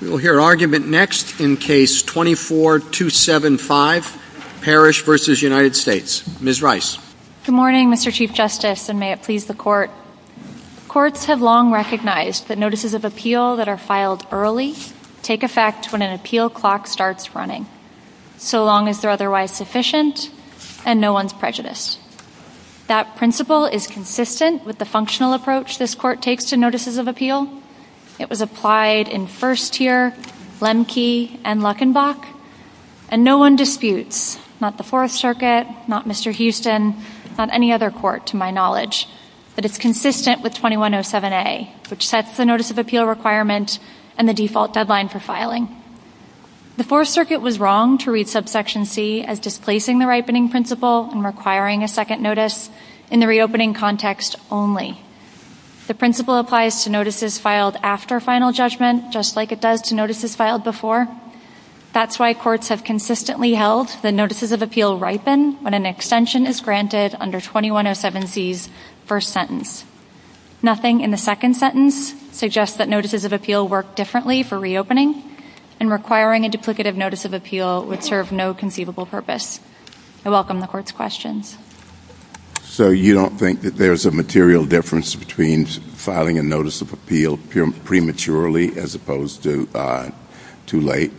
We will hear argument next in case 24275, Parrish v. United States. Ms. Rice. Good morning, Mr. Chief Justice, and may it please the Court. Courts have long recognized that notices of appeal that are filed early take effect when an appeal clock starts running, so long as they're otherwise sufficient and no one's prejudiced. That principle is consistent with the functional approach this Court takes to notices of appeal. It was applied in First here, Lemke, and Luckenbach. And no one disputes, not the Fourth Circuit, not Mr. Houston, not any other court to my knowledge, that it's consistent with 2107A, which sets the notice of appeal requirement and the default deadline for filing. The Fourth Circuit was wrong to read subsection C as displacing the ripening principle and requiring a second notice in the reopening context only. The principle applies to notices filed after final judgment, just like it does to notices filed before. That's why courts have consistently held that notices of appeal ripen when an extension is granted under 2107C's first sentence. Nothing in the second sentence suggests that notices of appeal work differently for reopening, and requiring a duplicative notice of appeal would serve no conceivable purpose. I welcome the Court's questions. So you don't think that there's a material difference between filing a notice of appeal prematurely as opposed to too late?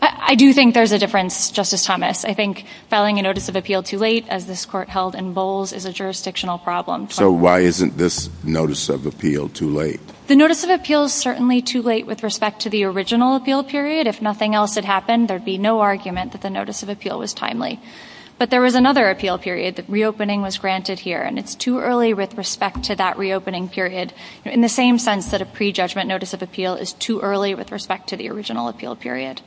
I do think there's a difference, Justice Thomas. I think filing a notice of appeal too late, as this Court held in Bowles, is a jurisdictional problem. So why isn't this notice of appeal too late? The notice of appeal is certainly too late with respect to the original appeal period. If nothing else had happened, there'd be no argument that the notice of appeal was timely. But there was another appeal period. The reopening was granted here, and it's too early with respect to that reopening period, in the same sense that a prejudgment notice of appeal is too early with respect to the original appeal period.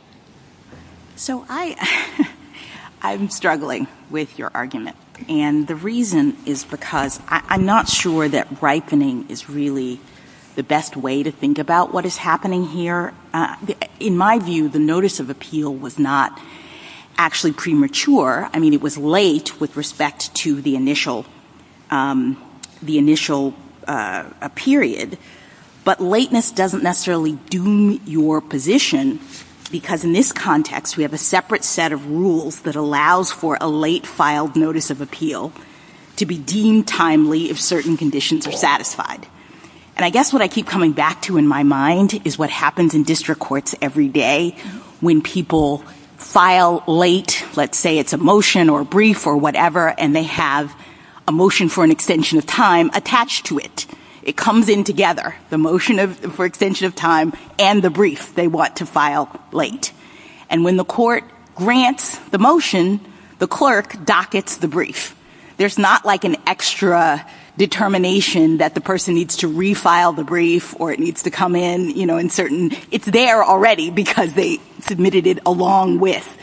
So I'm struggling with your argument. And the reason is because I'm not sure that ripening is really the best way to think about what is happening here. In my view, the notice of appeal was not actually premature. I mean, it was late with respect to the initial period. But lateness doesn't necessarily doom your position, because in this context, we have a separate set of rules that allows for a late filed notice of appeal to be deemed timely if certain conditions are satisfied. And I guess what I keep coming back to in my mind is what happens in district courts every day when people file late. Let's say it's a motion or a brief or whatever, and they have a motion for an extension of time attached to it. It comes in together, the motion for extension of time and the brief they want to file late. And when the court grants the motion, the clerk dockets the brief. There's not like an extra determination that the person needs to refile the brief or it needs to come in, you know, in certain. It's there already because they submitted it along with.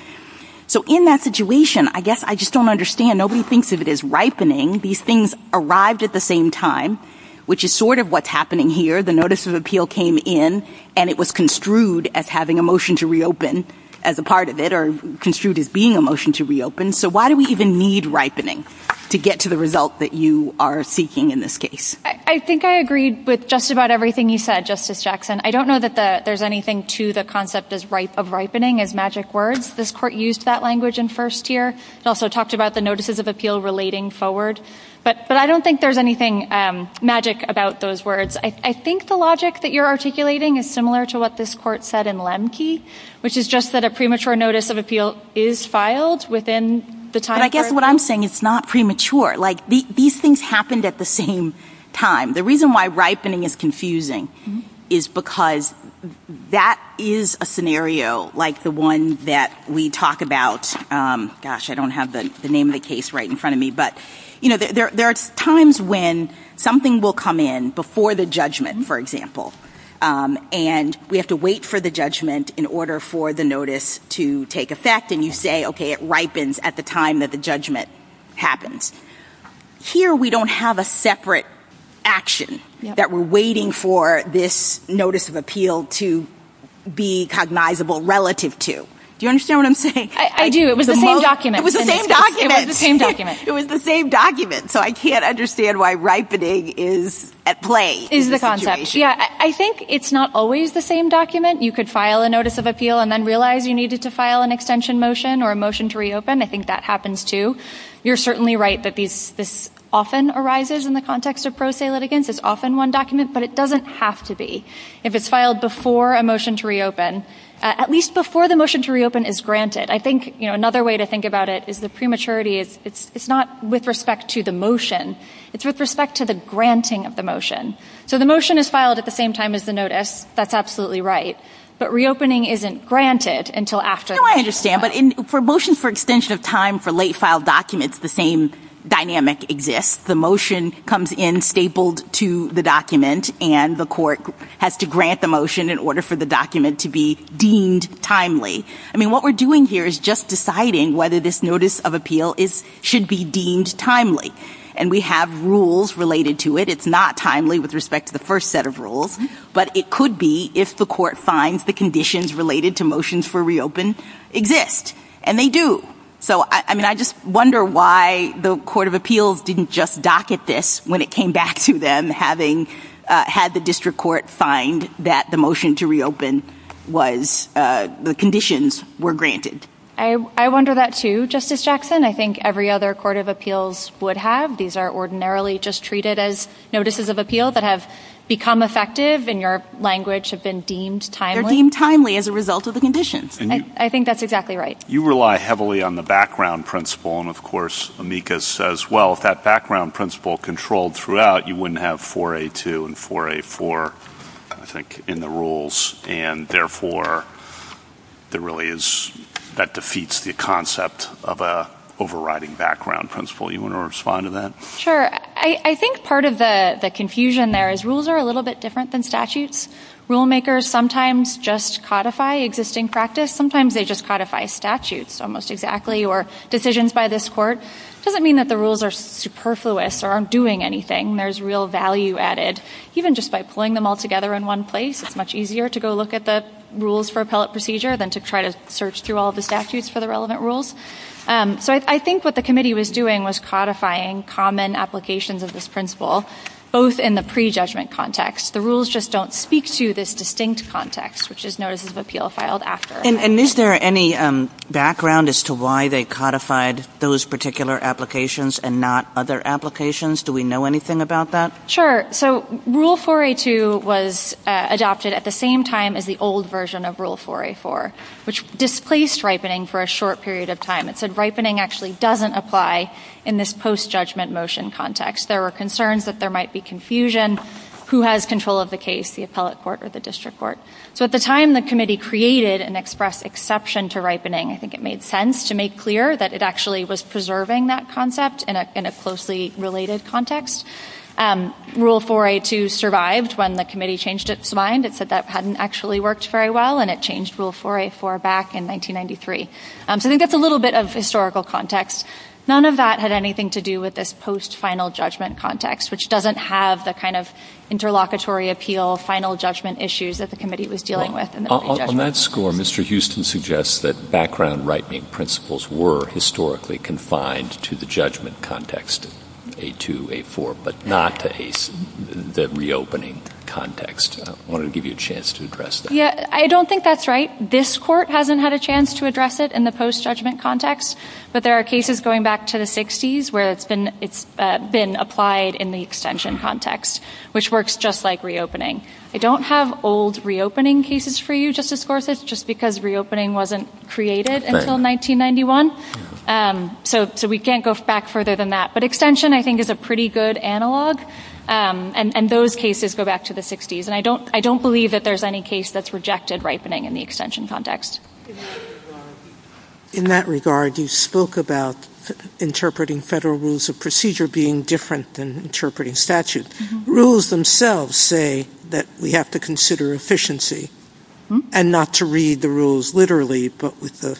So in that situation, I guess I just don't understand. Nobody thinks of it as ripening. These things arrived at the same time, which is sort of what's happening here. The notice of appeal came in, and it was construed as having a motion to reopen as a part of it or construed as being a motion to reopen. So why do we even need ripening to get to the result that you are seeking in this case? I think I agreed with just about everything you said, Justice Jackson. I don't know that there's anything to the concept of ripening as magic words. This court used that language in first year. It also talked about the notices of appeal relating forward. But I don't think there's anything magic about those words. I think the logic that you're articulating is similar to what this court said in Lemke, which is just that a premature notice of appeal is filed within the time. But I guess what I'm saying, it's not premature. Like, these things happened at the same time. The reason why ripening is confusing is because that is a scenario like the one that we talk about. Gosh, I don't have the name of the case right in front of me. But there are times when something will come in before the judgment, for example, and we have to wait for the judgment in order for the notice to take effect. And you say, OK, it ripens at the time that the judgment happens. Here we don't have a separate action that we're waiting for this notice of appeal to be cognizable relative to. Do you understand what I'm saying? I do. It was the same document. It was the same document. It was the same document. It was the same document. So I can't understand why ripening is at play in this situation. Yeah. I think it's not always the same document. You could file a notice of appeal and then realize you needed to file an extension motion or a motion to reopen. I think that happens, too. You're certainly right that this often arises in the context of pro se litigants. It's often one document. But it doesn't have to be. If it's filed before a motion to reopen, at least before the motion to reopen is granted. I think another way to think about it is the prematurity. It's not with respect to the motion. It's with respect to the granting of the motion. So the motion is filed at the same time as the notice. That's absolutely right. But reopening isn't granted until after the motion is filed. No, I understand. But for motions for extension of time for late filed documents, the same dynamic exists. The motion comes in stapled to the document and the court has to grant the motion in order for the document to be deemed timely. I mean, what we're doing here is just deciding whether this notice of appeal should be deemed timely. And we have rules related to it. It's not timely with respect to the first set of rules. But it could be if the court finds the conditions related to motions for reopen exist. And they do. So, I mean, I just wonder why the court of appeals didn't just dock at this when it came back to them having had the district court find that the motion to reopen was the conditions were granted. I wonder that too, Justice Jackson. I think every other court of appeals would have. These are ordinarily just treated as notices of appeal that have become effective and your language have been deemed timely. They're deemed timely as a result of the conditions. I think that's exactly right. You rely heavily on the background principle. And, of course, Amica says, well, if that background principle controlled throughout, you wouldn't have 4A2 and 4A4, I think, in the rules. And, therefore, that defeats the concept of an overriding background principle. You want to respond to that? Sure. I think part of the confusion there is rules are a little bit different than statutes. Rulemakers sometimes just codify existing practice. Sometimes they just codify statutes almost exactly or decisions by this court. It doesn't mean that the rules are superfluous or aren't doing anything. There's real value added. Even just by pulling them all together in one place, it's much easier to go look at the rules for appellate procedure than to try to search through all the statutes for the relevant rules. So, I think what the committee was doing was codifying common applications of this principle, both in the prejudgment context. The rules just don't speak to this distinct context, which is notices of appeal filed after. And is there any background as to why they codified those particular applications and not other applications? Do we know anything about that? Sure. So, Rule 4A2 was adopted at the same time as the old version of Rule 4A4, which displaced ripening for a short period of time. It said ripening actually doesn't apply in this post-judgment motion context. There were concerns that there might be confusion. Who has control of the case, the appellate court or the district court? So, at the time, the committee created and expressed exception to ripening. I think it made sense to make clear that it actually was preserving that concept in a closely related context. Rule 4A2 survived when the committee changed its mind. It said that hadn't actually worked very well, and it changed Rule 4A4 back in 1993. So, I think that's a little bit of historical context. None of that had anything to do with this post-final judgment context, which doesn't have the kind of interlocutory appeal, final judgment issues that the committee was dealing with. On that score, Mr. Houston suggests that background ripening principles were historically confined to the judgment context, A2, A4, but not to the reopening context. I wanted to give you a chance to address that. I don't think that's right. This court hasn't had a chance to address it in the post-judgment context. But there are cases going back to the 60s where it's been applied in the extension context, which works just like reopening. I don't have old reopening cases for you, Justice Gorsuch, just because reopening wasn't created until 1991. So, we can't go back further than that. But extension, I think, is a pretty good analog, and those cases go back to the 60s. And I don't believe that there's any case that's rejected ripening in the extension context. In that regard, you spoke about interpreting federal rules of procedure being different than interpreting statute. Rules themselves say that we have to consider efficiency, and not to read the rules literally, but with a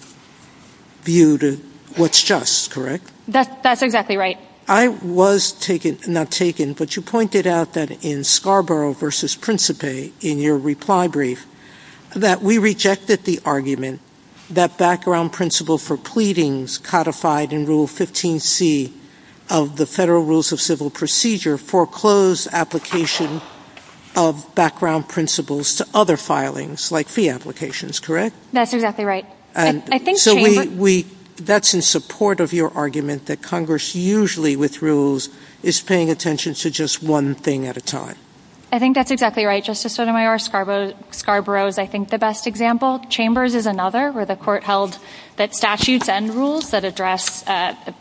view to what's just, correct? That's exactly right. I was taken, not taken, but you pointed out that in Scarborough v. Principe, in your reply brief, that we rejected the argument that background principle for pleadings codified in Rule 15c of the Federal Rules of Civil Procedure foreclosed application of background principles to other filings, like fee applications, correct? That's exactly right. So, that's in support of your argument that Congress, usually with rules, is paying attention to just one thing at a time. I think that's exactly right, Justice Sotomayor. Scarborough is, I think, the best example. Chambers is another, where the court held that statutes and rules that address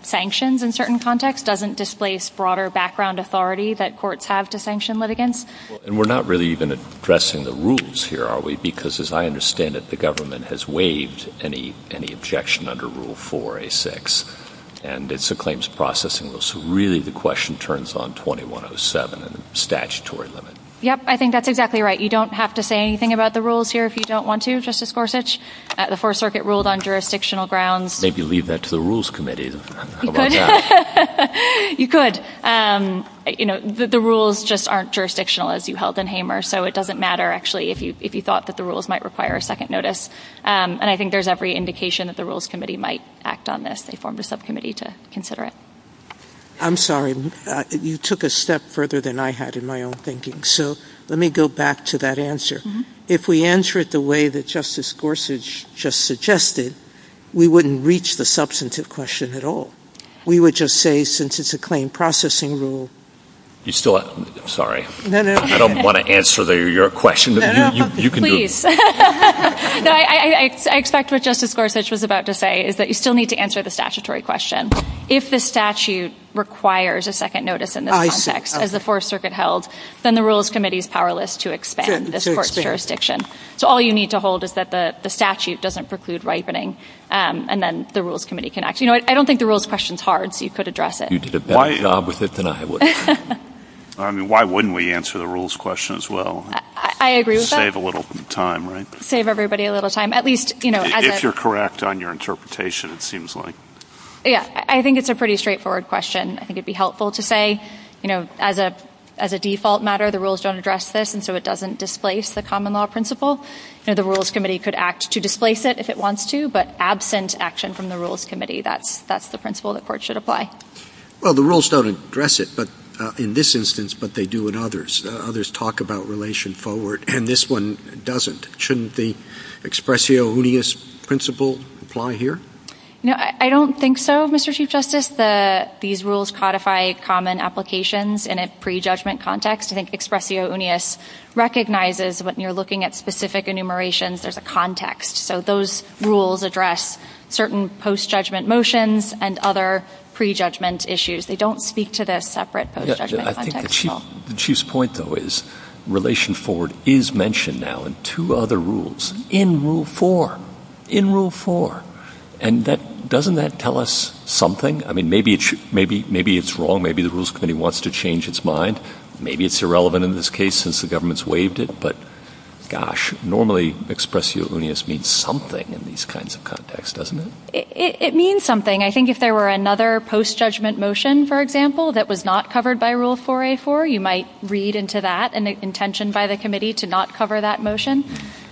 sanctions in certain contexts doesn't displace broader background authority that courts have to sanction litigants. And we're not really even addressing the rules here, are we? Because, as I understand it, the government has waived any objection under Rule 4a6, and it's a claims processing rule. So, really, the question turns on 2107 and the statutory limit. Yep, I think that's exactly right. You don't have to say anything about the rules here if you don't want to, Justice Gorsuch. The Fourth Circuit ruled on jurisdictional grounds. Maybe leave that to the Rules Committee. You could. The rules just aren't jurisdictional, as you held in Hamer. So, it doesn't matter, actually, if you thought that the rules might require a second notice. And I think there's every indication that the Rules Committee might act on this. They formed a subcommittee to consider it. I'm sorry. You took a step further than I had in my own thinking. So, let me go back to that answer. If we answer it the way that Justice Gorsuch just suggested, we wouldn't reach the substantive question at all. We would just say, since it's a claim processing rule. You still have – I'm sorry. No, no. I don't want to answer your question. No, no. You can do it. Please. No, I expect what Justice Gorsuch was about to say is that you still need to answer the statutory question. If the statute requires a second notice in this context, as the Fourth Circuit held, then the Rules Committee is powerless to expand this court's jurisdiction. So, all you need to hold is that the statute doesn't preclude ripening, and then the Rules Committee can act. You know, I don't think the rules question is hard, so you could address it. You did a better job with it than I would. I mean, why wouldn't we answer the rules question as well? I agree with that. Save a little time, right? Save everybody a little time. At least, you know, as a – If you're correct on your interpretation, it seems like. Yeah. I think it's a pretty straightforward question. I think it would be helpful to say, you know, as a default matter, the rules don't address this, and so it doesn't displace the common law principle. You know, the Rules Committee could act to displace it if it wants to, but absent action from the Rules Committee, that's the principle the court should apply. Well, the rules don't address it in this instance, but they do in others. Others talk about relation forward, and this one doesn't. Shouldn't the expressio unius principle apply here? No, I don't think so, Mr. Chief Justice. These rules codify common applications in a prejudgment context. I think expressio unius recognizes when you're looking at specific enumerations, there's a context. So those rules address certain post-judgment motions and other prejudgment issues. They don't speak to the separate post-judgment context at all. I think the Chief's point, though, is relation forward is mentioned now in two other rules, in Rule 4, in Rule 4. And doesn't that tell us something? I mean, maybe it's wrong. Maybe the Rules Committee wants to change its mind. Maybe it's irrelevant in this case since the government's waived it. But, gosh, normally expressio unius means something in these kinds of contexts, doesn't it? It means something. I think if there were another post-judgment motion, for example, that was not covered by Rule 4A4, you might read into that an intention by the committee to not cover that motion.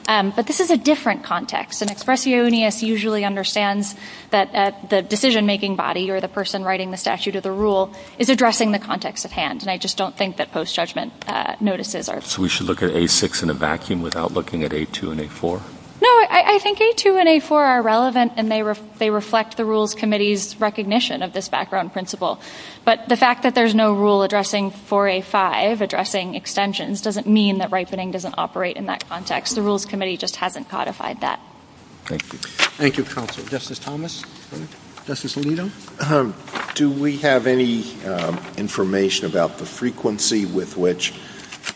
But this is a different context, and expressio unius usually understands that the decision-making body or the person writing the statute of the rule is addressing the context at hand. And I just don't think that post-judgment notices are. So we should look at A6 in a vacuum without looking at A2 and A4? No, I think A2 and A4 are relevant, and they reflect the Rules Committee's recognition of this background principle. But the fact that there's no rule addressing 4A5, addressing extensions, doesn't mean that ripening doesn't operate in that context. The Rules Committee just hasn't codified that. Thank you. Thank you, Counsel. Justice Thomas? Justice Alito? Do we have any information about the frequency with which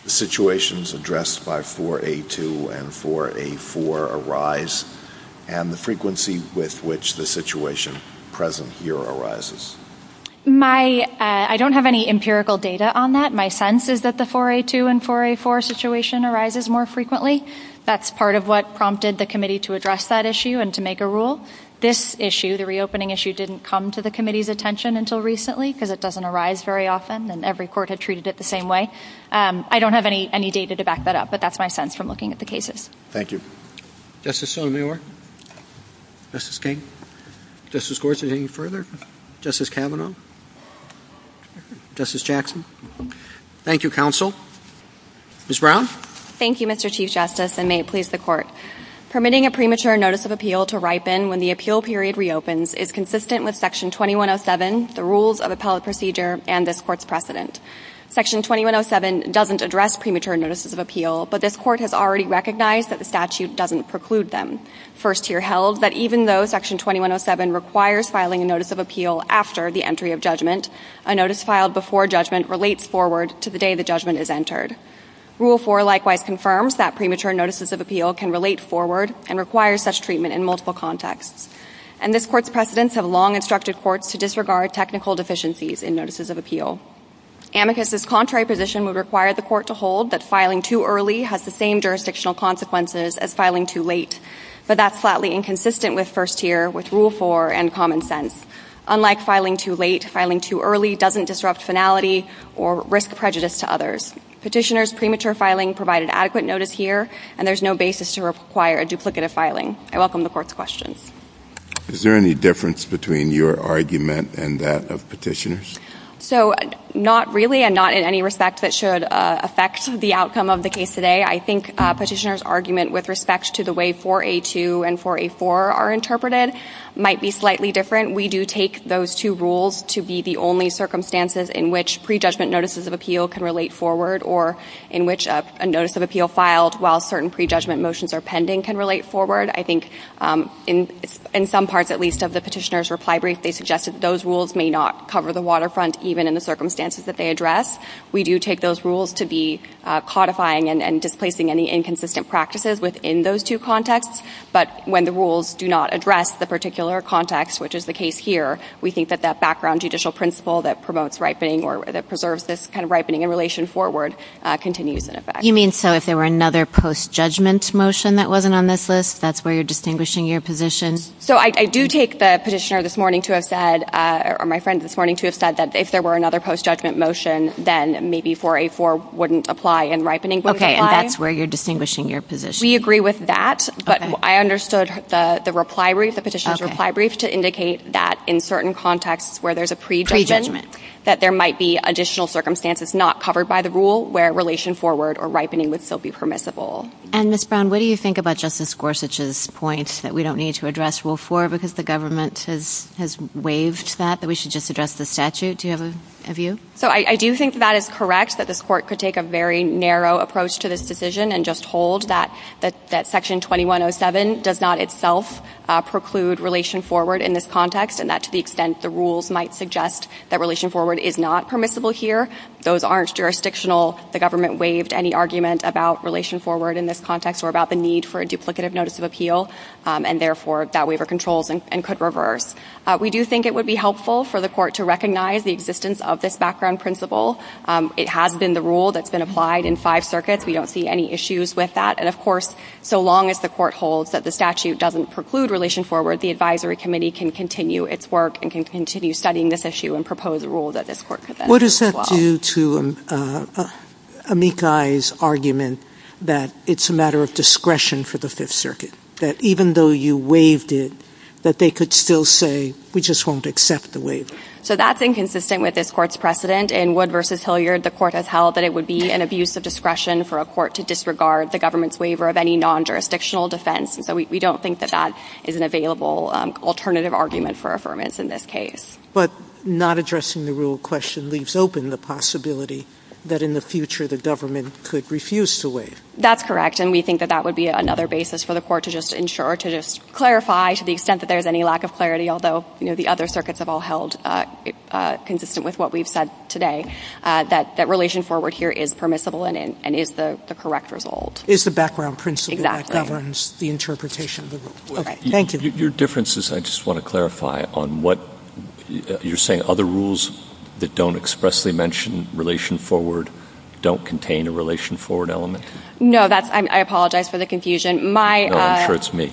the situations addressed by 4A2 and 4A4 arise and the frequency with which the situation present here arises? I don't have any empirical data on that. My sense is that the 4A2 and 4A4 situation arises more frequently. That's part of what prompted the committee to address that issue and to make a rule. This issue, the reopening issue, didn't come to the committee's attention until recently because it doesn't arise very often, and every court had treated it the same way. I don't have any data to back that up, but that's my sense from looking at the cases. Thank you. Justice Sotomayor? Justice King? Justice Gorsuch, any further? Justice Kavanaugh? Justice Jackson? Thank you, Counsel. Ms. Brown? Thank you, Mr. Chief Justice, and may it please the Court. Permitting a premature notice of appeal to ripen when the appeal period reopens is consistent with Section 2107, the rules of appellate procedure, and this Court's precedent. Section 2107 doesn't address premature notices of appeal, but this Court has already recognized that the statute doesn't preclude them. First here held that even though Section 2107 requires filing a notice of appeal after the entry of judgment, a notice filed before judgment relates forward to the day the judgment is entered. Rule 4 likewise confirms that premature notices of appeal can relate forward and requires such treatment in multiple contexts, and this Court's precedents have long instructed courts to disregard technical deficiencies in notices of appeal. Amicus's contrary position would require the Court to hold that filing too early has the same jurisdictional consequences as filing too late, but that's flatly inconsistent with first here, with Rule 4, and common sense. Unlike filing too late, filing too early doesn't disrupt finality or risk prejudice to others. Petitioners' premature filing provided adequate notice here, and there's no basis to require a duplicative filing. I welcome the Court's questions. Is there any difference between your argument and that of petitioners? So not really, and not in any respect that should affect the outcome of the case today. I think petitioners' argument with respect to the way 4A2 and 4A4 are interpreted might be slightly different. We do take those two rules to be the only circumstances in which prejudgment notices of appeal can relate forward or in which a notice of appeal filed while certain prejudgment motions are pending can relate forward. I think in some parts, at least, of the petitioner's reply brief, they suggested those rules may not cover the waterfront even in the circumstances that they address. We do take those rules to be codifying and displacing any inconsistent practices within those two contexts, but when the rules do not address the particular context, which is the case here, we think that that background judicial principle that promotes ripening or that preserves this kind of ripening in relation forward continues in effect. You mean so if there were another post-judgment motion that wasn't on this list, that's where you're distinguishing your position? So I do take the petitioner this morning to have said, or my friend this morning to have said, that if there were another post-judgment motion, then maybe 4A4 wouldn't apply and ripening wouldn't apply. Okay, and that's where you're distinguishing your position. We agree with that, but I understood the reply brief, the petitioner's reply brief, to indicate that in certain contexts where there's a prejudgment, that there might be additional circumstances not covered by the rule where relation forward or ripening would still be permissible. And Ms. Brown, what do you think about Justice Gorsuch's point that we don't need to address Rule 4 because the government has waived that, that we should just address the statute? Do you have a view? So I do think that that is correct, that this court could take a very narrow approach to this decision and just hold that Section 2107 does not itself preclude relation forward in this context, and that to the extent the rules might suggest that relation forward is not permissible here, those aren't jurisdictional. The government waived any argument about relation forward in this context or about the need for a duplicative notice of appeal, and therefore that waiver controls and could reverse. We do think it would be helpful for the court to recognize the existence of this background principle. It has been the rule that's been applied in five circuits. We don't see any issues with that. And, of course, so long as the court holds that the statute doesn't preclude relation forward, the advisory committee can continue its work and can continue studying this issue and propose a rule that this court could then approve as well. What does that do to Amikai's argument that it's a matter of discretion for the Fifth Circuit, that even though you waived it, that they could still say, we just won't accept the waiver? So that's inconsistent with this court's precedent. In Wood v. Hilliard, the court has held that it would be an abuse of discretion for a court to disregard the government's waiver of any non-jurisdictional defense. And so we don't think that that is an available alternative argument for affirmance in this case. But not addressing the rule of question leaves open the possibility that in the future the government could refuse to waive. That's correct. And we think that that would be another basis for the court to just ensure, to just clarify to the extent that there's any lack of clarity, although the other circuits have all held consistent with what we've said today, that relation forward here is permissible and is the correct result. It's the background principle that governs the interpretation of the rule. Thank you. Your difference is I just want to clarify on what you're saying. Other rules that don't expressly mention relation forward don't contain a relation forward element? No. I apologize for the confusion. No, I'm sure it's me.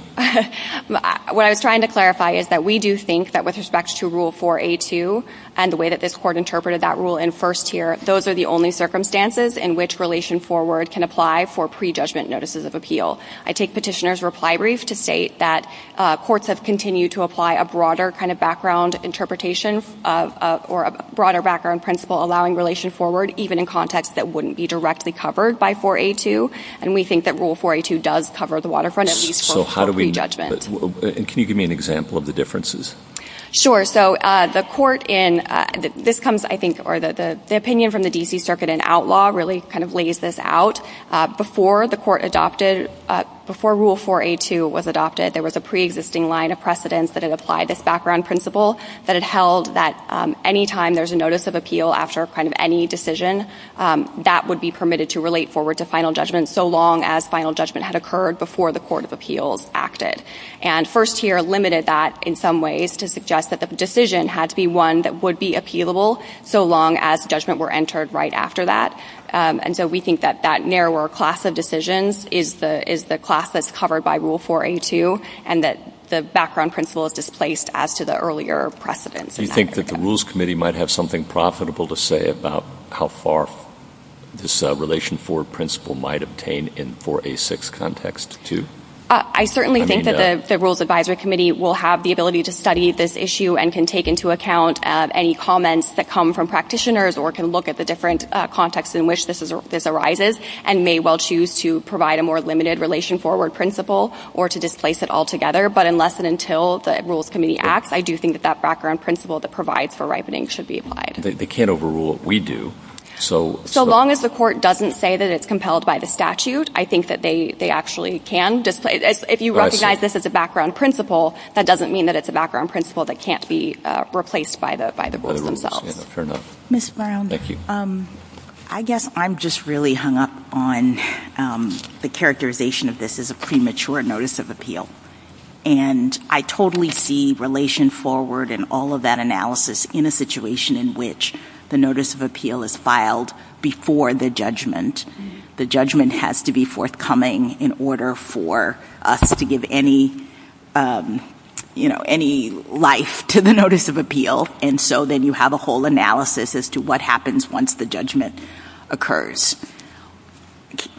What I was trying to clarify is that we do think that with respect to Rule 4A2 and the way that this court interpreted that rule in first tier, those are the only circumstances in which relation forward can apply for prejudgment notices of appeal. I take Petitioner's reply brief to state that courts have continued to apply a broader kind of background interpretation or a broader background principle allowing relation forward, even in contexts that wouldn't be directly covered by 4A2. And we think that Rule 4A2 does cover the waterfront at least for appeal. So how do we know? And can you give me an example of the differences? Sure. So the opinion from the D.C. Circuit in outlaw really kind of lays this out. Before Rule 4A2 was adopted, there was a preexisting line of precedence that had applied this background principle that it held that any time there's a notice of appeal after kind of any decision, that would be permitted to relate forward to final judgment so long as final judgment had occurred before the court of appeals acted. And first tier limited that in some ways to suggest that the decision had to be one that would be appealable so long as judgment were entered right after that. And so we think that that narrower class of decisions is the class that's covered by Rule 4A2 and that the background principle is displaced as to the earlier precedence. Do you think that the Rules Committee might have something profitable to say about how far this relation forward principle might obtain in 4A6 context too? I certainly think that the Rules Advisory Committee will have the ability to study this issue and can take into account any comments that come from practitioners or can look at the different contexts in which this arises and may well choose to provide a more limited relation forward principle or to displace it altogether. But unless and until the Rules Committee acts, I do think that that background principle that provides for ripening should be applied. They can't overrule what we do. So long as the court doesn't say that it's compelled by the statute, I think that they actually can displace it. If you recognize this as a background principle, that doesn't mean that it's a background principle that can't be replaced by the rules themselves. Fair enough. Ms. Brown. Thank you. I guess I'm just really hung up on the characterization of this as a premature notice of appeal. And I totally see relation forward and all of that analysis in a situation in which the notice of appeal is filed before the judgment. The judgment has to be forthcoming in order for us to give any life to the notice of appeal. And so then you have a whole analysis as to what happens once the judgment occurs.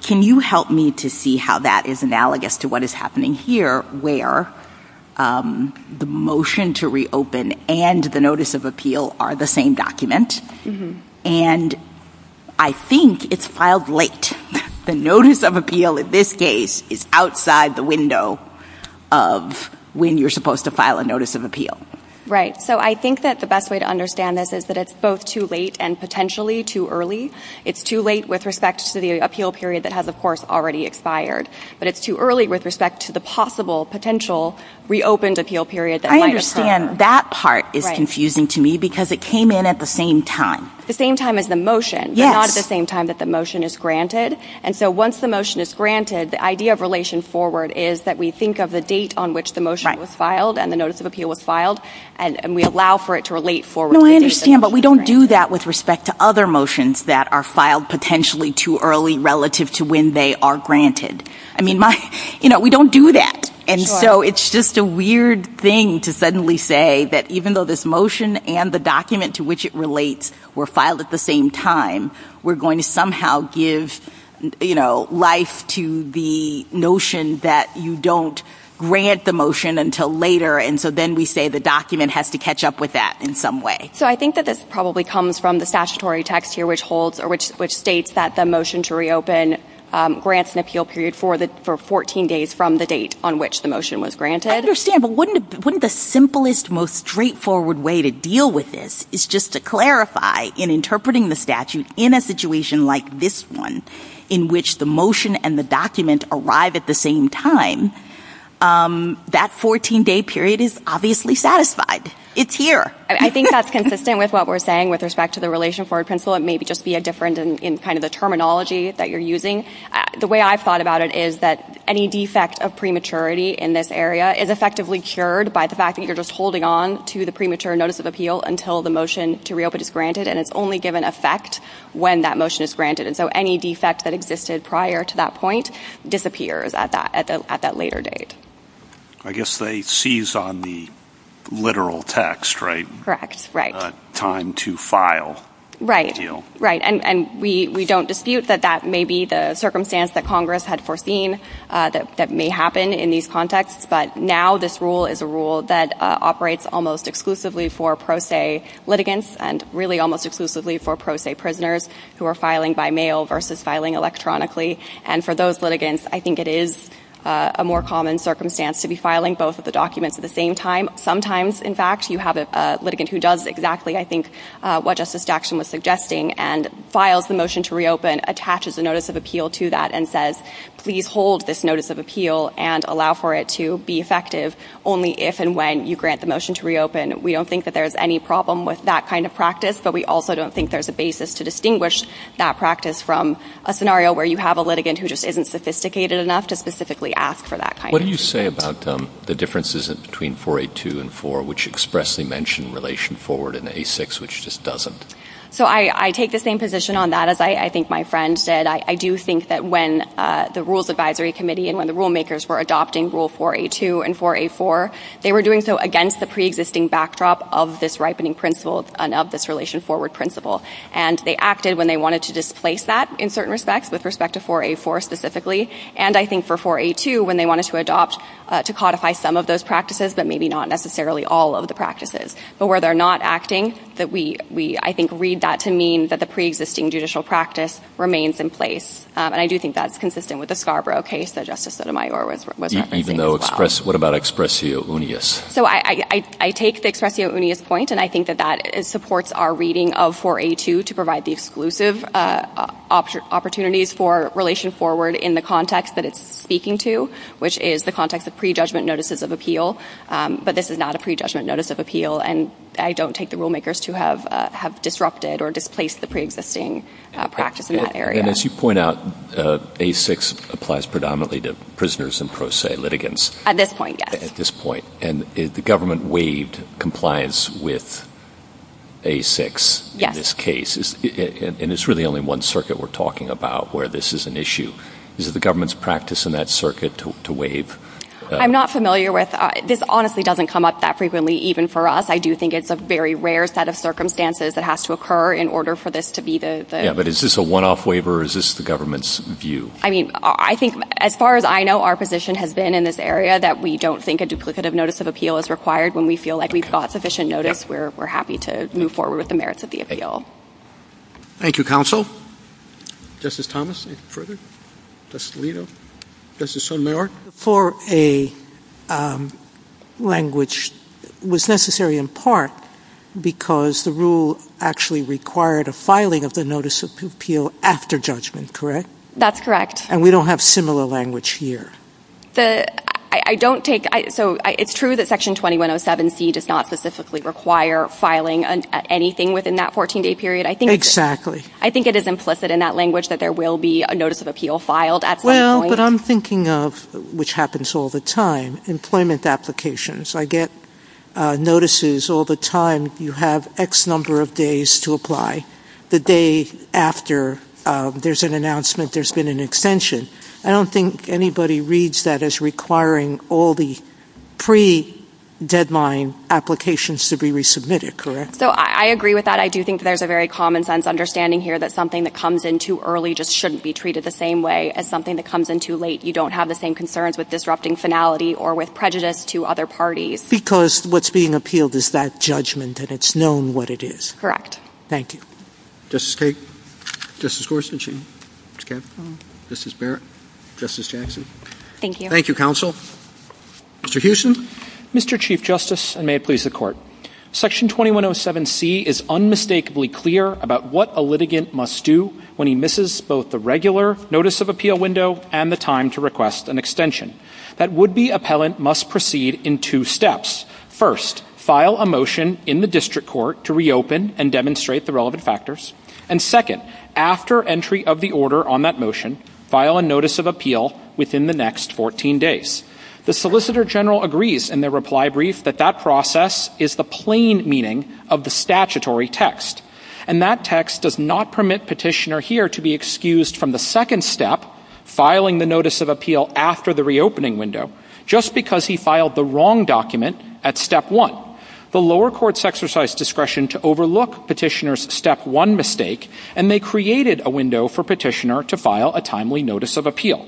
Can you help me to see how that is analogous to what is happening here where the motion to reopen and the notice of appeal are the same document? And I think it's filed late. The notice of appeal in this case is outside the window of when you're supposed to file a notice of appeal. Right. So I think that the best way to understand this is that it's both too late and potentially too early. It's too late with respect to the appeal period that has, of course, already expired. But it's too early with respect to the possible potential reopened appeal period that might occur. I understand that part is confusing to me because it came in at the same time. The same time as the motion. Yes. But not at the same time that the motion is granted. And so once the motion is granted, the idea of relation forward is that we think of the date on which the motion was filed and the notice of appeal was filed, and we allow for it to relate forward. No, I understand. But we don't do that with respect to other motions that are filed potentially too early relative to when they are granted. I mean, you know, we don't do that. And so it's just a weird thing to suddenly say that even though this motion and the document to which it relates were filed at the same time, we're going to somehow give, you know, life to the notion that you don't grant the motion until later. And so then we say the document has to catch up with that in some way. So I think that this probably comes from the statutory text here, which states that the motion to reopen grants an appeal period for 14 days from the date on which the motion was granted. I understand. But wouldn't the simplest, most straightforward way to deal with this is just to clarify in interpreting the statute in a situation like this one, in which the motion and the document arrive at the same time, that 14-day period is obviously satisfied. It's here. I think that's consistent with what we're saying with respect to the relation forward principle. It may just be different in kind of the terminology that you're using. The way I've thought about it is that any defect of prematurity in this area is effectively cured by the fact that you're just holding on to the premature notice of appeal until the motion to reopen is granted. And it's only given effect when that motion is granted. And so any defect that existed prior to that point disappears at that later date. I guess they seize on the literal text, right? Correct. Right. Time to file. Right. And we don't dispute that that may be the circumstance that Congress had foreseen that may happen in these contexts. But now this rule is a rule that operates almost exclusively for pro se litigants and really almost exclusively for pro se prisoners who are filing by mail versus filing electronically. And for those litigants, I think it is a more common circumstance to be filing both of the documents at the same time. Sometimes, in fact, you have a litigant who does exactly, I think, what Justice Jackson was suggesting and files the motion to reopen, attaches a notice of appeal to that and says, please hold this notice of appeal and allow for it to be effective only if and when you grant the motion to reopen. We don't think that there's any problem with that kind of practice, but we also don't think there's a basis to distinguish that practice from a scenario where you have a litigant who just isn't sophisticated enough to specifically ask for that kind of treatment. What would you say about the differences between 4A2 and 4, which expressly mention relation forward in A6, which just doesn't? So I take the same position on that as I think my friend did. I do think that when the Rules Advisory Committee and when the rulemakers were adopting Rule 4A2 and 4A4, they were doing so against the preexisting backdrop of this ripening principle and of this relation forward principle. And they acted when they wanted to displace that in certain respects, with respect to 4A4 specifically, and I think for 4A2, when they wanted to adopt to codify some of those practices, but maybe not necessarily all of the practices. But where they're not acting, that we, I think, read that to mean that the preexisting judicial practice remains in place. And I do think that's consistent with the Scarborough case that Justice Sotomayor was referencing as well. Even though express—what about expressio unius? So I take the expressio unius point, and I think that that supports our reading of 4A2 to provide the exclusive opportunities for relation forward in the context that it's speaking to, which is the context of prejudgment notices of appeal. But this is not a prejudgment notice of appeal, and I don't take the rulemakers to have disrupted or displaced the preexisting practice in that area. And as you point out, A6 applies predominantly to prisoners and pro se litigants. At this point, yes. At this point. And the government waived compliance with A6 in this case. And it's really only one circuit we're talking about where this is an issue. Is it the government's practice in that circuit to waive? I'm not familiar with—this honestly doesn't come up that frequently, even for us. I do think it's a very rare set of circumstances that has to occur in order for this to be the— Yeah, but is this a one-off waiver, or is this the government's view? I mean, I think, as far as I know, our position has been in this area that we don't think a duplicative notice of appeal is required. When we feel like we've got sufficient notice, we're happy to move forward with the merits of the appeal. Thank you, counsel. Justice Thomas, anything further? Justice Alito? Justice Sotomayor? 4A language was necessary in part because the rule actually required a filing of the notice of appeal after judgment, correct? That's correct. And we don't have similar language here. I don't take—so it's true that Section 2107C does not specifically require filing anything within that 14-day period. Exactly. I think it is implicit in that language that there will be a notice of appeal filed at some point. Well, but I'm thinking of—which happens all the time—employment applications. I get notices all the time. You have X number of days to apply the day after there's an announcement there's been an extension. I don't think anybody reads that as requiring all the pre-deadline applications to be resubmitted, correct? So I agree with that. I do think there's a very common-sense understanding here that something that comes in too early just shouldn't be treated the same way as something that comes in too late. You don't have the same concerns with disrupting finality or with prejudice to other parties. Because what's being appealed is that judgment, and it's known what it is. Thank you. Justice Kagan? Justice Gorsuch? Ms. Kavanagh? Justice Barrett? Justice Jackson? Thank you. Thank you, counsel. Mr. Houston? Mr. Chief Justice, and may it please the Court, Section 2107C is unmistakably clear about what a litigant must do when he misses both the regular notice of appeal window and the time to request an extension. That would-be appellant must proceed in two steps. First, file a motion in the district court to reopen and demonstrate the relevant factors. And second, after entry of the order on that motion, file a notice of appeal within the next 14 days. The Solicitor General agrees in their reply brief that that process is the plain meaning of the statutory text. And that text does not permit Petitioner here to be excused from the second step, filing the notice of appeal after the reopening window, just because he filed the wrong document at step one. The lower courts exercised discretion to overlook Petitioner's step one mistake, and they created a window for Petitioner to file a timely notice of appeal.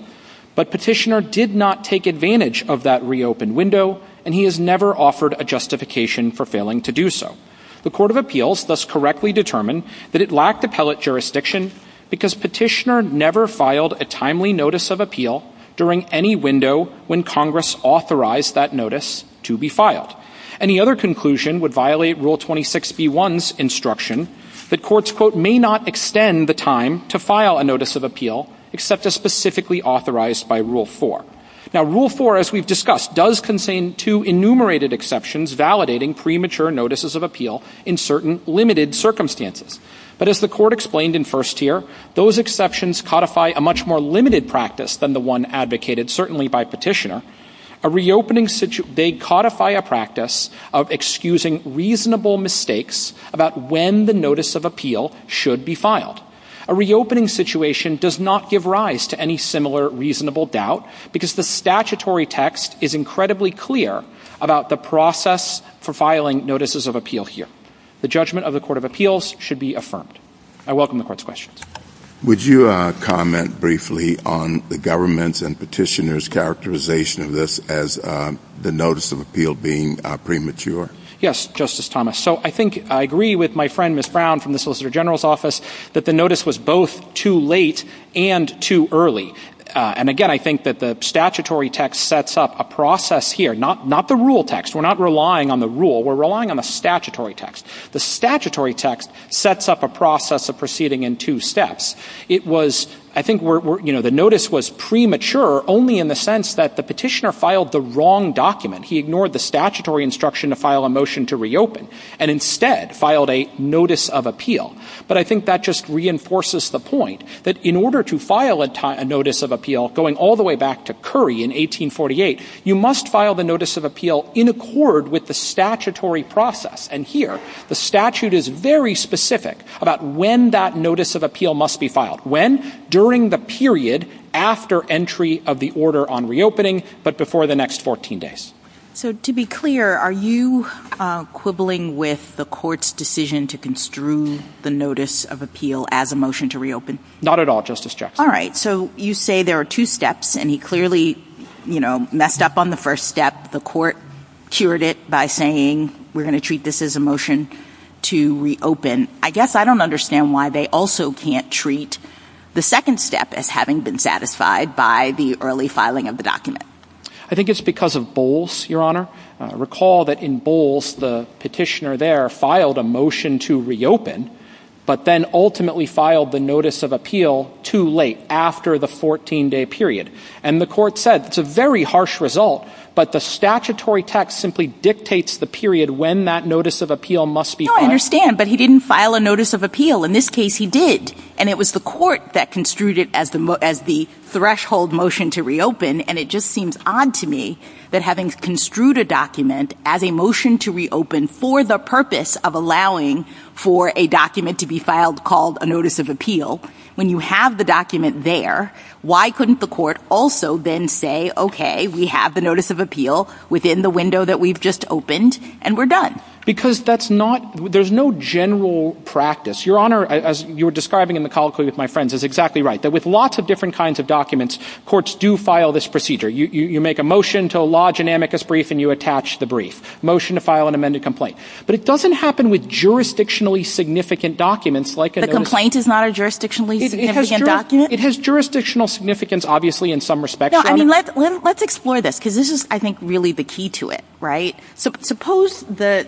But Petitioner did not take advantage of that reopened window, and he has never offered a justification for failing to do so. The Court of Appeals thus correctly determined that it lacked appellate jurisdiction because Petitioner never filed a timely notice of appeal during any window when Congress authorized that notice to be filed. Any other conclusion would violate Rule 26b-1's instruction that courts, quote, may not extend the time to file a notice of appeal except as specifically authorized by Rule 4. Now, Rule 4, as we've discussed, does contain two enumerated exceptions validating premature notices of appeal in certain limited circumstances. But as the Court explained in first tier, those exceptions codify a much more limited practice than the one advocated certainly by Petitioner. They codify a practice of excusing reasonable mistakes about when the notice of appeal should be filed. A reopening situation does not give rise to any similar reasonable doubt because the statutory text is incredibly clear about the process for filing notices of appeal here. The judgment of the Court of Appeals should be affirmed. I welcome the Court's questions. Would you comment briefly on the government's and Petitioner's characterization of this as the notice of appeal being premature? Yes, Justice Thomas. So I think I agree with my friend Ms. Brown from the Solicitor General's office that the notice was both too late and too early. And again, I think that the statutory text sets up a process here, not the rule text. We're not relying on the rule. We're relying on the statutory text. The statutory text sets up a process of proceeding in two steps. It was, I think, you know, the notice was premature only in the sense that the Petitioner filed the wrong document. He ignored the statutory instruction to file a motion to reopen and instead filed a notice of appeal. But I think that just reinforces the point that in order to file a notice of appeal going all the way back to Curry in 1848, you must file the notice of appeal in accord with the statutory process. And here, the statute is very specific about when that notice of appeal must be filed. When? During the period after entry of the order on reopening but before the next 14 days. So to be clear, are you quibbling with the Court's decision to construe the notice of appeal as a motion to reopen? Not at all, Justice Jackson. All right. So you say there are two steps, and he clearly, you know, messed up on the first step. The Court cured it by saying we're going to treat this as a motion to reopen. I guess I don't understand why they also can't treat the second step as having been satisfied by the early filing of the document. I think it's because of Bowles, Your Honor. Recall that in Bowles, the Petitioner there filed a motion to reopen but then ultimately filed the notice of appeal too late, after the 14-day period. And the Court said it's a very harsh result, but the statutory text simply dictates the period when that notice of appeal must be filed. No, I understand. But he didn't file a notice of appeal. In this case, he did. And it was the Court that construed it as the threshold motion to reopen. And it just seems odd to me that having construed a document as a motion to reopen for the purpose of allowing for a document to be filed called a notice of appeal, when you have the document there, why couldn't the Court also then say, okay, we have the notice of appeal within the window that we've just opened, and we're done? Because there's no general practice. Your Honor, as you were describing in the colloquy with my friends, is exactly right. That with lots of different kinds of documents, courts do file this procedure. You make a motion to a law genamicus brief and you attach the brief. Motion to file an amended complaint. But it doesn't happen with jurisdictionally significant documents like a notice of appeal. The complaint is not a jurisdictionally significant document? It has jurisdictional significance, obviously, in some respects, Your Honor. No, I mean, let's explore this because this is, I think, really the key to it, right? Suppose that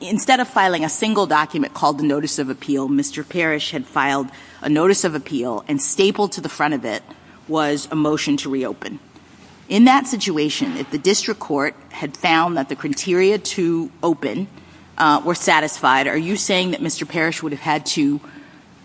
instead of filing a single document called the notice of appeal, Mr. Parrish had filed a notice of appeal and stapled to the front of it was a motion to reopen. In that situation, if the district court had found that the criteria to open were satisfied, are you saying that Mr. Parrish would have had to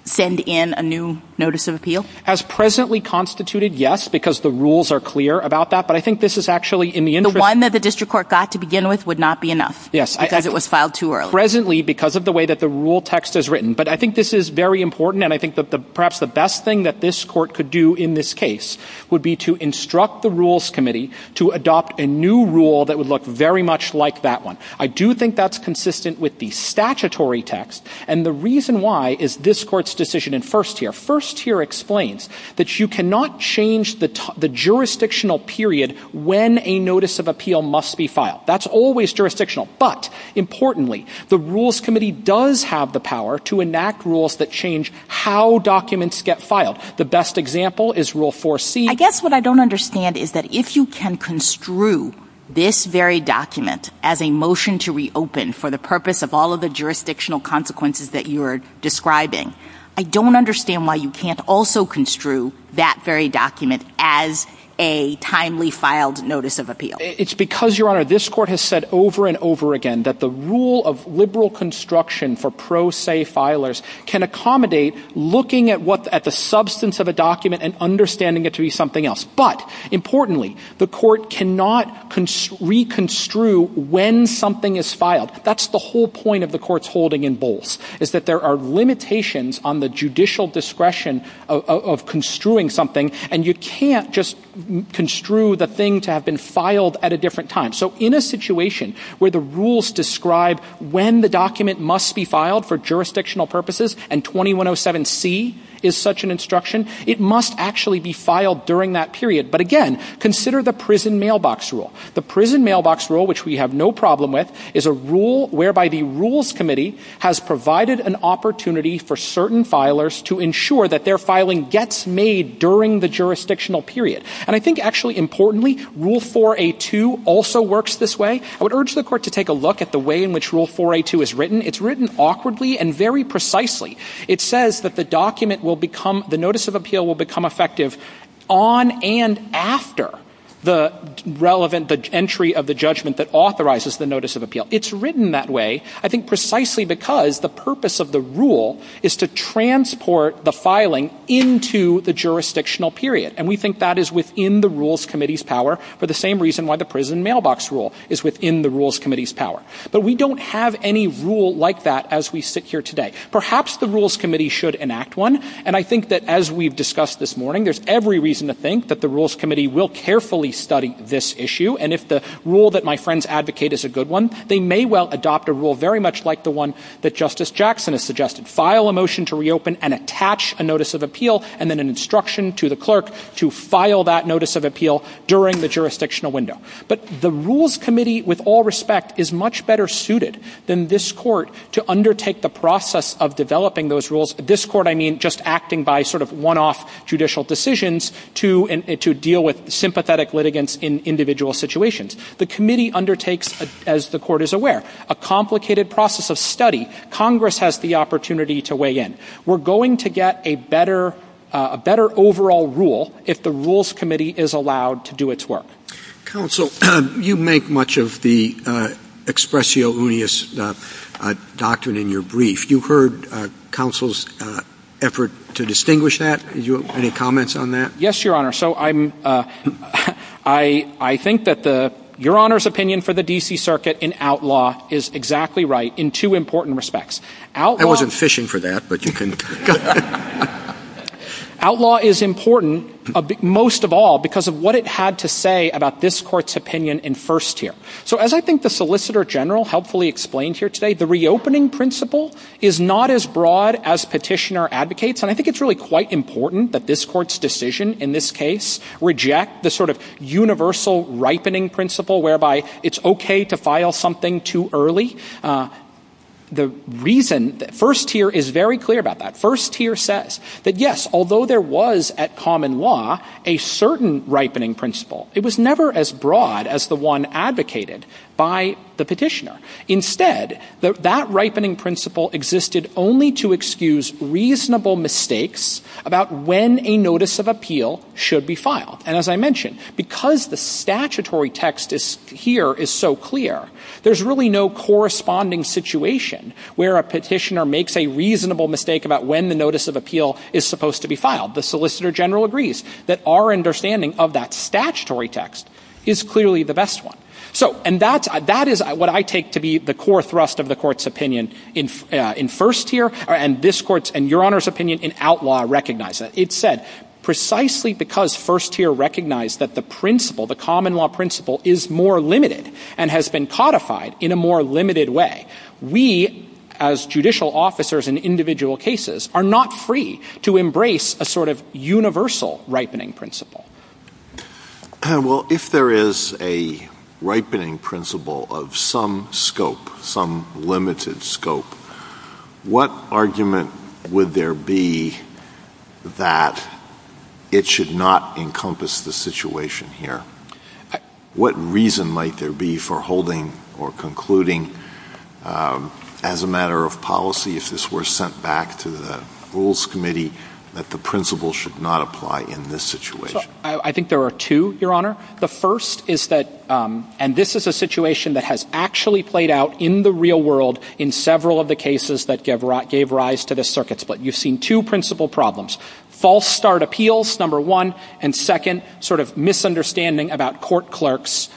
send in a new notice of appeal? As presently constituted, yes, because the rules are clear about that. But I think this is actually in the interest of the court. The one that the district court got to begin with would not be enough? Yes. Because it was filed too early? Presently, because of the way that the rule text is written. But I think this is very important, and I think that perhaps the best thing that this court could do in this case would be to instruct the rules committee to adopt a new rule that would look very much like that one. I do think that's consistent with the statutory text, and the reason why is this court's decision in first tier. First tier explains that you cannot change the jurisdictional period when a notice of appeal must be filed. That's always jurisdictional. But, importantly, the rules committee does have the power to enact rules that change how documents get filed. The best example is Rule 4C. I guess what I don't understand is that if you can construe this very document as a motion to reopen for the purpose of all of the jurisdictional consequences that you're describing, I don't understand why you can't also construe that very document as a timely filed notice of appeal. It's because, Your Honor, this court has said over and over again that the rule of liberal construction for pro se filers can accommodate looking at the substance of a document and understanding it to be something else. But, importantly, the court cannot reconstrue when something is filed. That's the whole point of the court's holding in Bolz, is that there are limitations on the judicial discretion of construing something. And you can't just construe the thing to have been filed at a different time. So, in a situation where the rules describe when the document must be filed for jurisdictional purposes, and 2107C is such an instruction, it must actually be filed during that period. But, again, consider the prison mailbox rule. The prison mailbox rule, which we have no problem with, is a rule whereby the rules committee has provided an opportunity for certain filers to ensure that their filing gets made during the jurisdictional period. And I think, actually, importantly, Rule 4A2 also works this way. I would urge the court to take a look at the way in which Rule 4A2 is written. It's written awkwardly and very precisely. It says that the document will become, the notice of appeal will become effective on and after the relevant, the entry of the judgment that authorizes the notice of appeal. It's written that way, I think, precisely because the purpose of the rule is to transport the filing into the jurisdictional period. And we think that is within the rules committee's power, for the same reason why the prison mailbox rule is within the rules committee's power. But we don't have any rule like that as we sit here today. Perhaps the rules committee should enact one. And I think that, as we've discussed this morning, there's every reason to think that the rules committee will carefully study this issue. And if the rule that my friends advocate is a good one, they may well adopt a rule very much like the one that Justice Jackson has suggested. File a motion to reopen and attach a notice of appeal, and then an instruction to the clerk to file that notice of appeal during the jurisdictional window. But the rules committee, with all respect, is much better suited than this court to undertake the process of developing those rules. This court, I mean, just acting by sort of one-off judicial decisions to deal with sympathetic litigants in individual situations. The committee undertakes, as the court is aware, a complicated process of study. Congress has the opportunity to weigh in. We're going to get a better overall rule if the rules committee is allowed to do its work. Counsel, you make much of the expressio unius doctrine in your brief. You heard counsel's effort to distinguish that. Do you have any comments on that? Yes, Your Honor. So I think that Your Honor's opinion for the D.C. Circuit in outlaw is exactly right in two important respects. I wasn't fishing for that, but you can go ahead. Outlaw is important most of all because of what it had to say about this court's opinion in first tier. So as I think the Solicitor General helpfully explained here today, the reopening principle is not as broad as petitioner advocates. And I think it's really quite important that this court's decision in this case reject the sort of universal ripening principle whereby it's okay to file something too early. The reason that first tier is very clear about that. First tier says that yes, although there was at common law a certain ripening principle, it was never as broad as the one advocated by the petitioner. Instead, that ripening principle existed only to excuse reasonable mistakes about when a notice of appeal should be filed. And as I mentioned, because the statutory text here is so clear, there's really no corresponding situation where a petitioner makes a reasonable mistake about when the notice of appeal is supposed to be filed. The Solicitor General agrees that our understanding of that statutory text is clearly the best one. And that is what I take to be the core thrust of the court's opinion in first tier and Your Honor's opinion in outlaw recognizes. It said precisely because first tier recognized that the principle, the common law principle is more limited and has been codified in a more limited way. We as judicial officers in individual cases are not free to embrace a sort of universal ripening principle. Well, if there is a ripening principle of some scope, some limited scope, what argument would there be that it should not encompass the situation here? What reason might there be for holding or concluding as a matter of policy, if this were sent back to the Rules Committee, that the principle should not apply in this situation? I think there are two, Your Honor. The first is that, and this is a situation that has actually played out in the real world in several of the cases that gave rise to this circuit split. You've seen two principle problems. False start appeals, number one, and second, sort of misunderstanding about court clerks,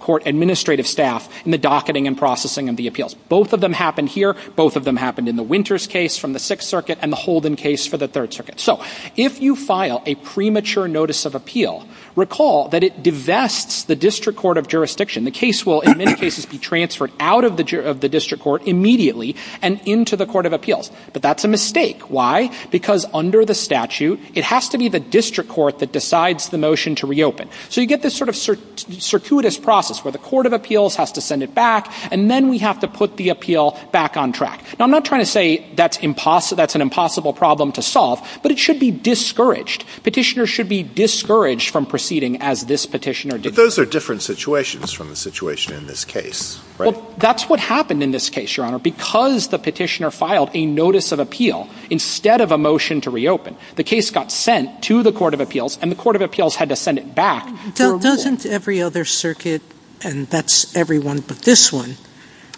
court administrative staff in the docketing and processing of the appeals. Both of them happened here. Both of them happened in the Winters case from the Sixth Circuit and the Holden case for the Third Circuit. So if you file a premature notice of appeal, recall that it divests the district court of jurisdiction. The case will, in many cases, be transferred out of the district court immediately and into the court of appeals. But that's a mistake. Why? Because under the statute, it has to be the district court that decides the motion to reopen. So you get this sort of circuitous process where the court of appeals has to send it back, and then we have to put the appeal back on track. Now, I'm not trying to say that's an impossible problem to solve, but it should be discouraged. Petitioners should be discouraged from proceeding as this petitioner did. But those are different situations from the situation in this case, right? Well, that's what happened in this case, Your Honor, because the petitioner filed a notice of appeal instead of a motion to reopen. The case got sent to the court of appeals, and the court of appeals had to send it back. Doesn't every other circuit, and that's every one but this one,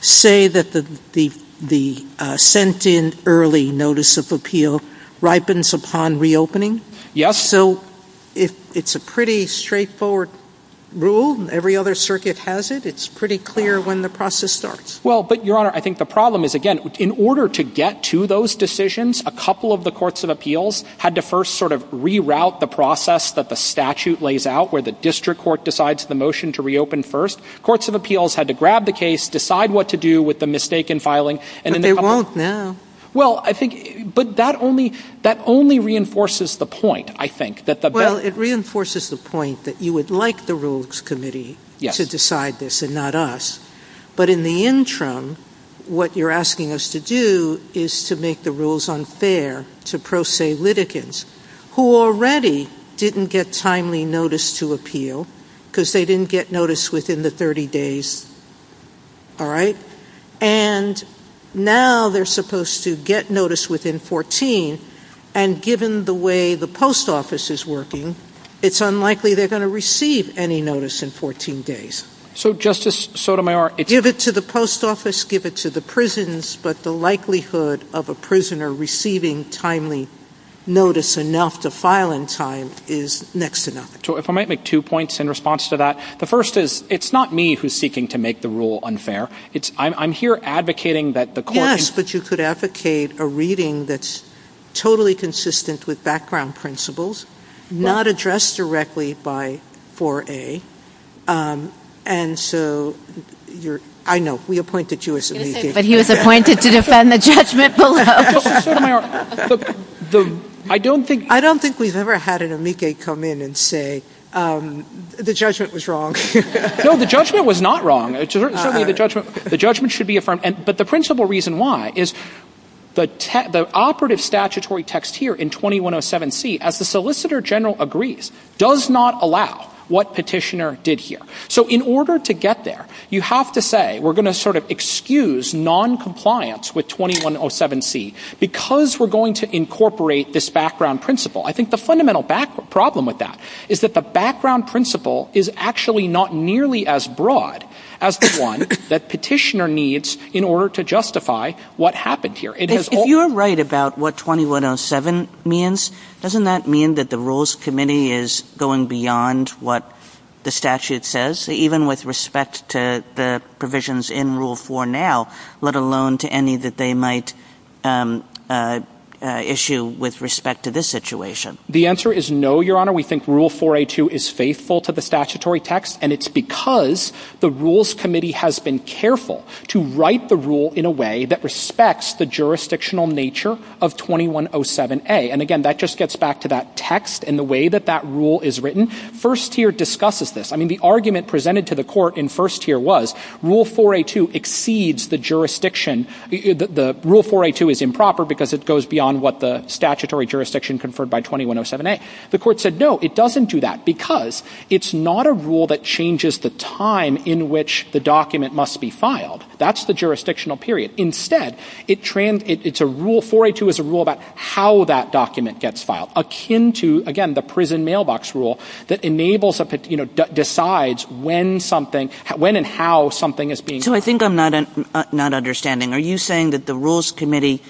say that the sent-in early notice of appeal ripens upon reopening? Yes. So it's a pretty straightforward rule. Every other circuit has it. It's pretty clear when the process starts. Well, but, Your Honor, I think the problem is, again, in order to get to those decisions, a couple of the courts of appeals had to first sort of reroute the process that the statute lays out, where the district court decides the motion to reopen first. Courts of appeals had to grab the case, decide what to do with the mistake in filing. But they won't now. Well, I think that only reinforces the point, I think. Well, it reinforces the point that you would like the Rules Committee to decide this and not us. But in the interim, what you're asking us to do is to make the rules unfair to pro se litigants, who already didn't get timely notice to appeal because they didn't get notice within the 30 days. All right? And now they're supposed to get notice within 14, and given the way the post office is working, it's unlikely they're going to receive any notice in 14 days. So, Justice Sotomayor, it's... Give it to the post office, give it to the prisons, but the likelihood of a prisoner receiving timely notice enough to file in time is next to nothing. So if I might make two points in response to that. The first is it's not me who's seeking to make the rule unfair. I'm here advocating that the court... Yes, but you could advocate a reading that's totally consistent with background principles, not addressed directly by 4A, and so you're... I know, we appointed you as amici. But he was appointed to defend the judgment below. Justice Sotomayor, the... I don't think... I don't think we've ever had an amici come in and say, the judgment was wrong. No, the judgment was not wrong. Certainly the judgment should be affirmed. But the principle reason why is the operative statutory text here in 2107C, as the Solicitor General agrees, does not allow what Petitioner did here. So in order to get there, you have to say, we're going to sort of excuse noncompliance with 2107C because we're going to incorporate this background principle. I think the fundamental problem with that is that the background principle is actually not nearly as broad as the one that Petitioner needs in order to justify what happened here. If you're right about what 2107 means, doesn't that mean that the Rules Committee is going beyond what the statute says, even with respect to the provisions in Rule 4 now, let alone to any that they might issue with respect to this situation? The answer is no, Your Honor. We think Rule 4A2 is faithful to the statutory text, and it's because the Rules Committee has been careful to write the rule in a way that respects the jurisdictional nature of 2107A. And, again, that just gets back to that text and the way that that rule is written. First tier discusses this. I mean, the argument presented to the Court in first tier was, Rule 4A2 exceeds the jurisdiction. Rule 4A2 is improper because it goes beyond what the statutory jurisdiction conferred by 2107A. The Court said, no, it doesn't do that, because it's not a rule that changes the time in which the document must be filed. That's the jurisdictional period. Instead, it's a rule, 4A2 is a rule about how that document gets filed, akin to, again, the prison mailbox rule that decides when and how something is being filed. So I think I'm not understanding. Are you saying that the Rules Committee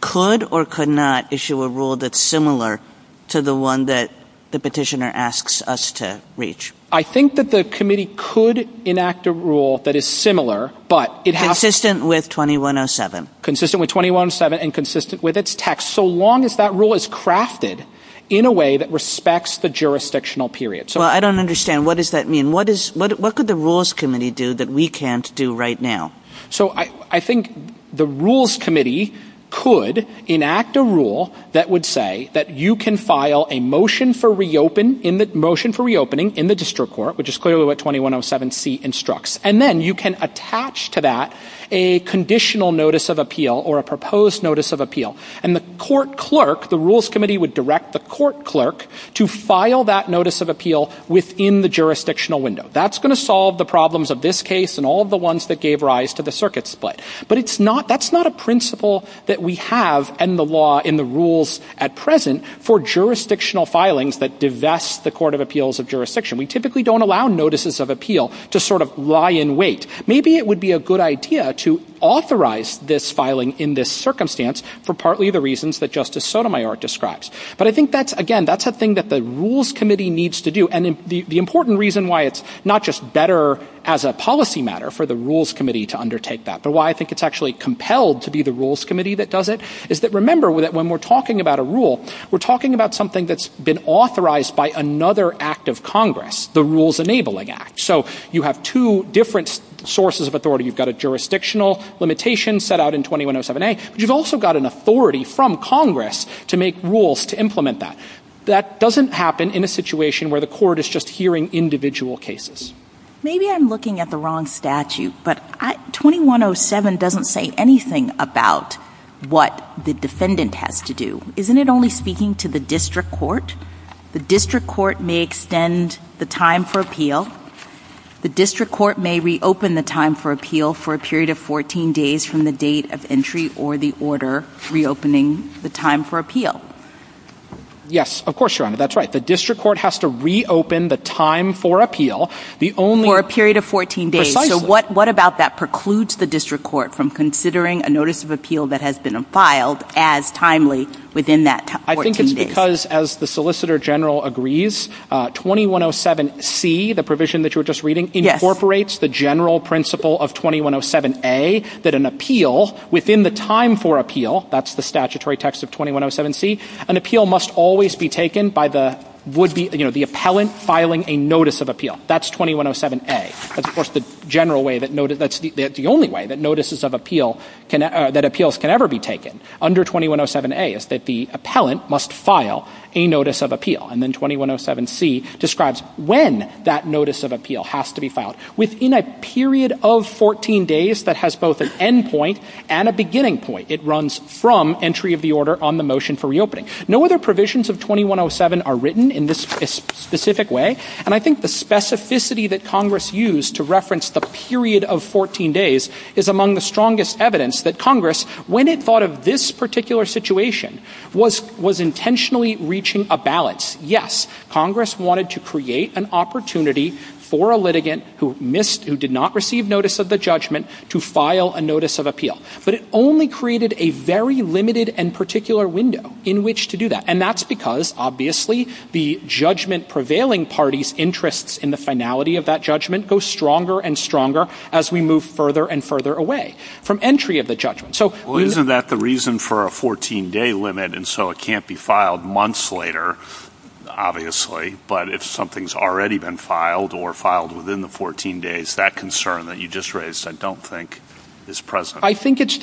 could or could not issue a rule that's similar to the one that the petitioner asks us to reach? I think that the Committee could enact a rule that is similar, but it has to... Consistent with 2107. Consistent with 2107 and consistent with its text, so long as that rule is crafted in a way that respects the jurisdictional period. Well, I don't understand. What does that mean? What could the Rules Committee do that we can't do right now? So I think the Rules Committee could enact a rule that would say that you can file a motion for reopening in the District Court, which is clearly what 2107C instructs, and then you can attach to that a conditional notice of appeal or a proposed notice of appeal. And the court clerk, the Rules Committee, would direct the court clerk to file that notice of appeal within the jurisdictional window. That's going to solve the problems of this case and all of the ones that gave rise to the circuit split. But that's not a principle that we have in the rules at present for jurisdictional filings that divest the Court of Appeals of Jurisdiction. We typically don't allow notices of appeal to sort of lie in wait. Maybe it would be a good idea to authorize this filing in this circumstance for partly the reasons that Justice Sotomayor describes. But I think, again, that's a thing that the Rules Committee needs to do. And the important reason why it's not just better as a policy matter for the Rules Committee to undertake that, but why I think it's actually compelled to be the Rules Committee that does it, is that, remember, when we're talking about a rule, we're talking about something that's been authorized by another act of Congress, the Rules Enabling Act. So you have two different sources of authority. You've got a jurisdictional limitation set out in 2107A, but you've also got an authority from Congress to make rules to implement that. That doesn't happen in a situation where the Court is just hearing individual cases. Maybe I'm looking at the wrong statute, but 2107 doesn't say anything about what the defendant has to do. Isn't it only speaking to the district court? The district court may extend the time for appeal. The district court may reopen the time for appeal for a period of 14 days from the date of entry or the order reopening the time for appeal. Yes, of course, Your Honor, that's right. The district court has to reopen the time for appeal. The only — For a period of 14 days. Precisely. So what about that precludes the district court from considering a notice of appeal that has been filed as timely within that 14 days? I think it's because, as the Solicitor General agrees, 2107C, the provision that you were just reading, incorporates the general principle of 2107A, that an appeal within the time for appeal, that's the statutory text of 2107C, an appeal must always be taken by the would-be — you know, the appellant filing a notice of appeal. That's 2107A. That's, of course, the general way that — that's the only way that notices of appeal can — that appeals can ever be taken under 2107A, is that the appellant must file a notice of appeal. And then 2107C describes when that notice of appeal has to be filed. Within a period of 14 days that has both an end point and a beginning point, it runs from entry of the order on the motion for reopening. No other provisions of 2107 are written in this specific way. And I think the specificity that Congress used to reference the period of 14 days is among the strongest evidence that Congress, when it thought of this particular situation, was intentionally reaching a balance. Yes, Congress wanted to create an opportunity for a litigant who missed — who did not receive notice of the judgment to file a notice of appeal. But it only created a very limited and particular window in which to do that. And that's because, obviously, the judgment-prevailing party's interests in the finality of that judgment go stronger and stronger as we move further and further away from entry of the judgment. So — Well, isn't that the reason for a 14-day limit? And so it can't be filed months later, obviously. But if something's already been filed or filed within the 14 days, that concern that you just raised, I don't think, is present. I think it's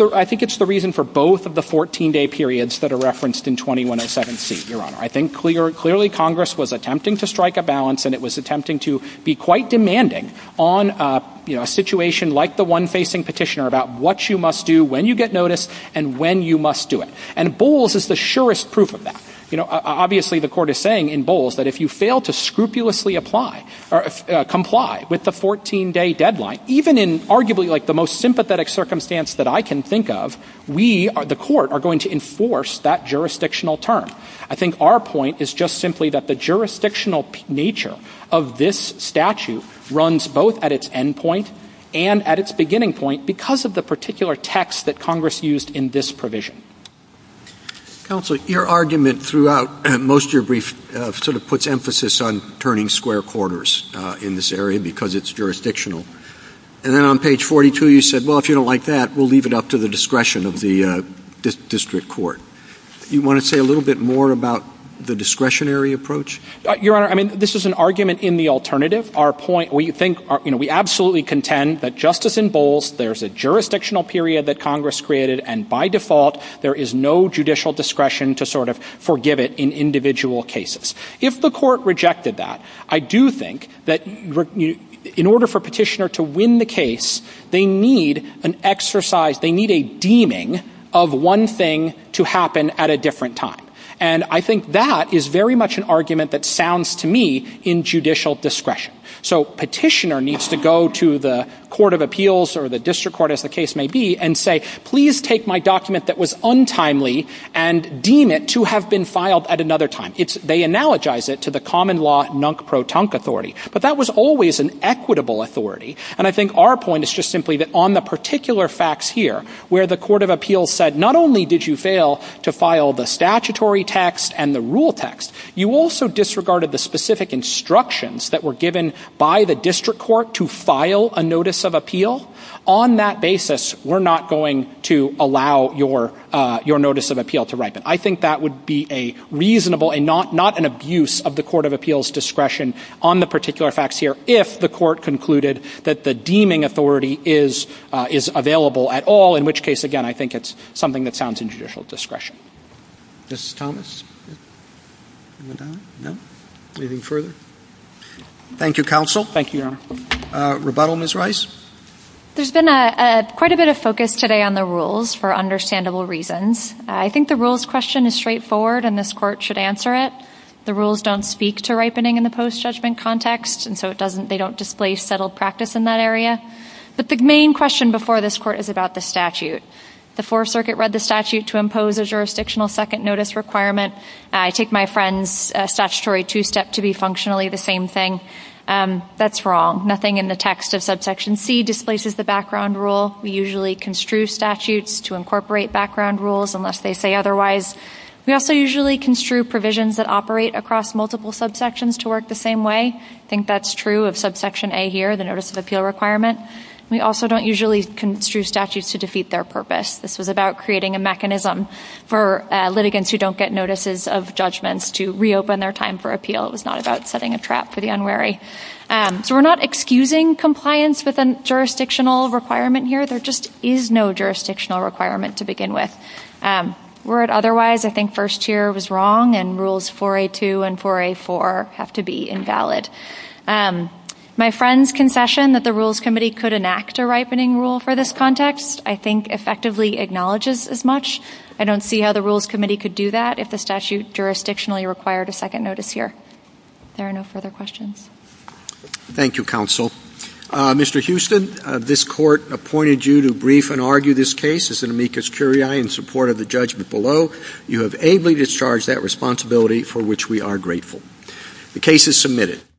the reason for both of the 14-day periods that are referenced in 2107C, Your Honor. I think clearly Congress was attempting to strike a balance, and it was attempting to be quite demanding on a situation like the one facing Petitioner about what you must do, when you get notice, and when you must do it. And Bowles is the surest proof of that. Obviously, the Court is saying in Bowles that if you fail to scrupulously comply with the 14-day deadline, even in arguably like the most sympathetic circumstance that I can think of, we, the Court, are going to enforce that jurisdictional term. I think our point is just simply that the jurisdictional nature of this statute runs both at its end point and at its beginning point because of the particular text that Congress used in this provision. Counsel, your argument throughout most of your brief sort of puts emphasis on turning square quarters in this area because it's jurisdictional. And then on page 42, you said, well, if you don't like that, we'll leave it up to the discretion of the district court. Do you want to say a little bit more about the discretionary approach? Your Honor, I mean, this is an argument in the alternative. Our point, we think, you know, we absolutely contend that just as in Bowles, there's a jurisdictional period that Congress created, and by default, there is no judicial discretion to sort of forgive it in individual cases. If the Court rejected that, I do think that in order for a petitioner to win the case, they need an exercise, they need a deeming of one thing to happen at a different time. And I think that is very much an argument that sounds to me in judicial discretion. So petitioner needs to go to the court of appeals or the district court, as the case may be, and say, please take my document that was untimely and deem it to have been filed at another time. They analogize it to the common law nunk-pro-tunk authority. But that was always an equitable authority. And I think our point is just simply that on the particular facts here, where the court of appeals said, not only did you fail to file the statutory text and the rule text, you also disregarded the specific instructions that were given by the district court to file a notice of appeal. On that basis, we're not going to allow your notice of appeal to ripen. I think that would be a reasonable and not an abuse of the court of appeals discretion on the particular facts here if the court concluded that the deeming authority is available at all. In which case, again, I think it's something that sounds in judicial discretion. Justice Thomas? No? Anything further? Thank you, counsel. Thank you, Your Honor. Rebuttal, Ms. Rice? There's been quite a bit of focus today on the rules for understandable reasons. I think the rules question is straightforward, and this court should answer it. The rules don't speak to ripening in the post-judgment context, and so they don't displace settled practice in that area. But the main question before this court is about the statute. The Fourth Circuit read the statute to impose a jurisdictional second notice requirement. I take my friend's statutory two-step to be functionally the same thing. That's wrong. Nothing in the text of subsection C displaces the background rule. We usually construe statutes to incorporate background rules unless they say otherwise. We also usually construe provisions that operate across multiple subsections to work the same way. I think that's true of subsection A here, the notice of appeal requirement. We also don't usually construe statutes to defeat their purpose. This was about creating a mechanism for litigants who don't get notices of judgments to reopen their time for appeal. It was not about setting a trap for the unwary. So we're not excusing compliance with a jurisdictional requirement here. There just is no jurisdictional requirement to begin with. Were it otherwise, I think first tier was wrong and rules 4A2 and 4A4 have to be invalid. My friend's concession that the Rules Committee could enact a ripening rule for this context I think effectively acknowledges as much. I don't see how the Rules Committee could do that if the statute jurisdictionally required a second notice here. There are no further questions. Thank you, Counsel. Mr. Houston, this Court appointed you to brief and argue this case. This is an amicus curiae in support of the judgment below. You have ably discharged that responsibility for which we are grateful. The case is submitted.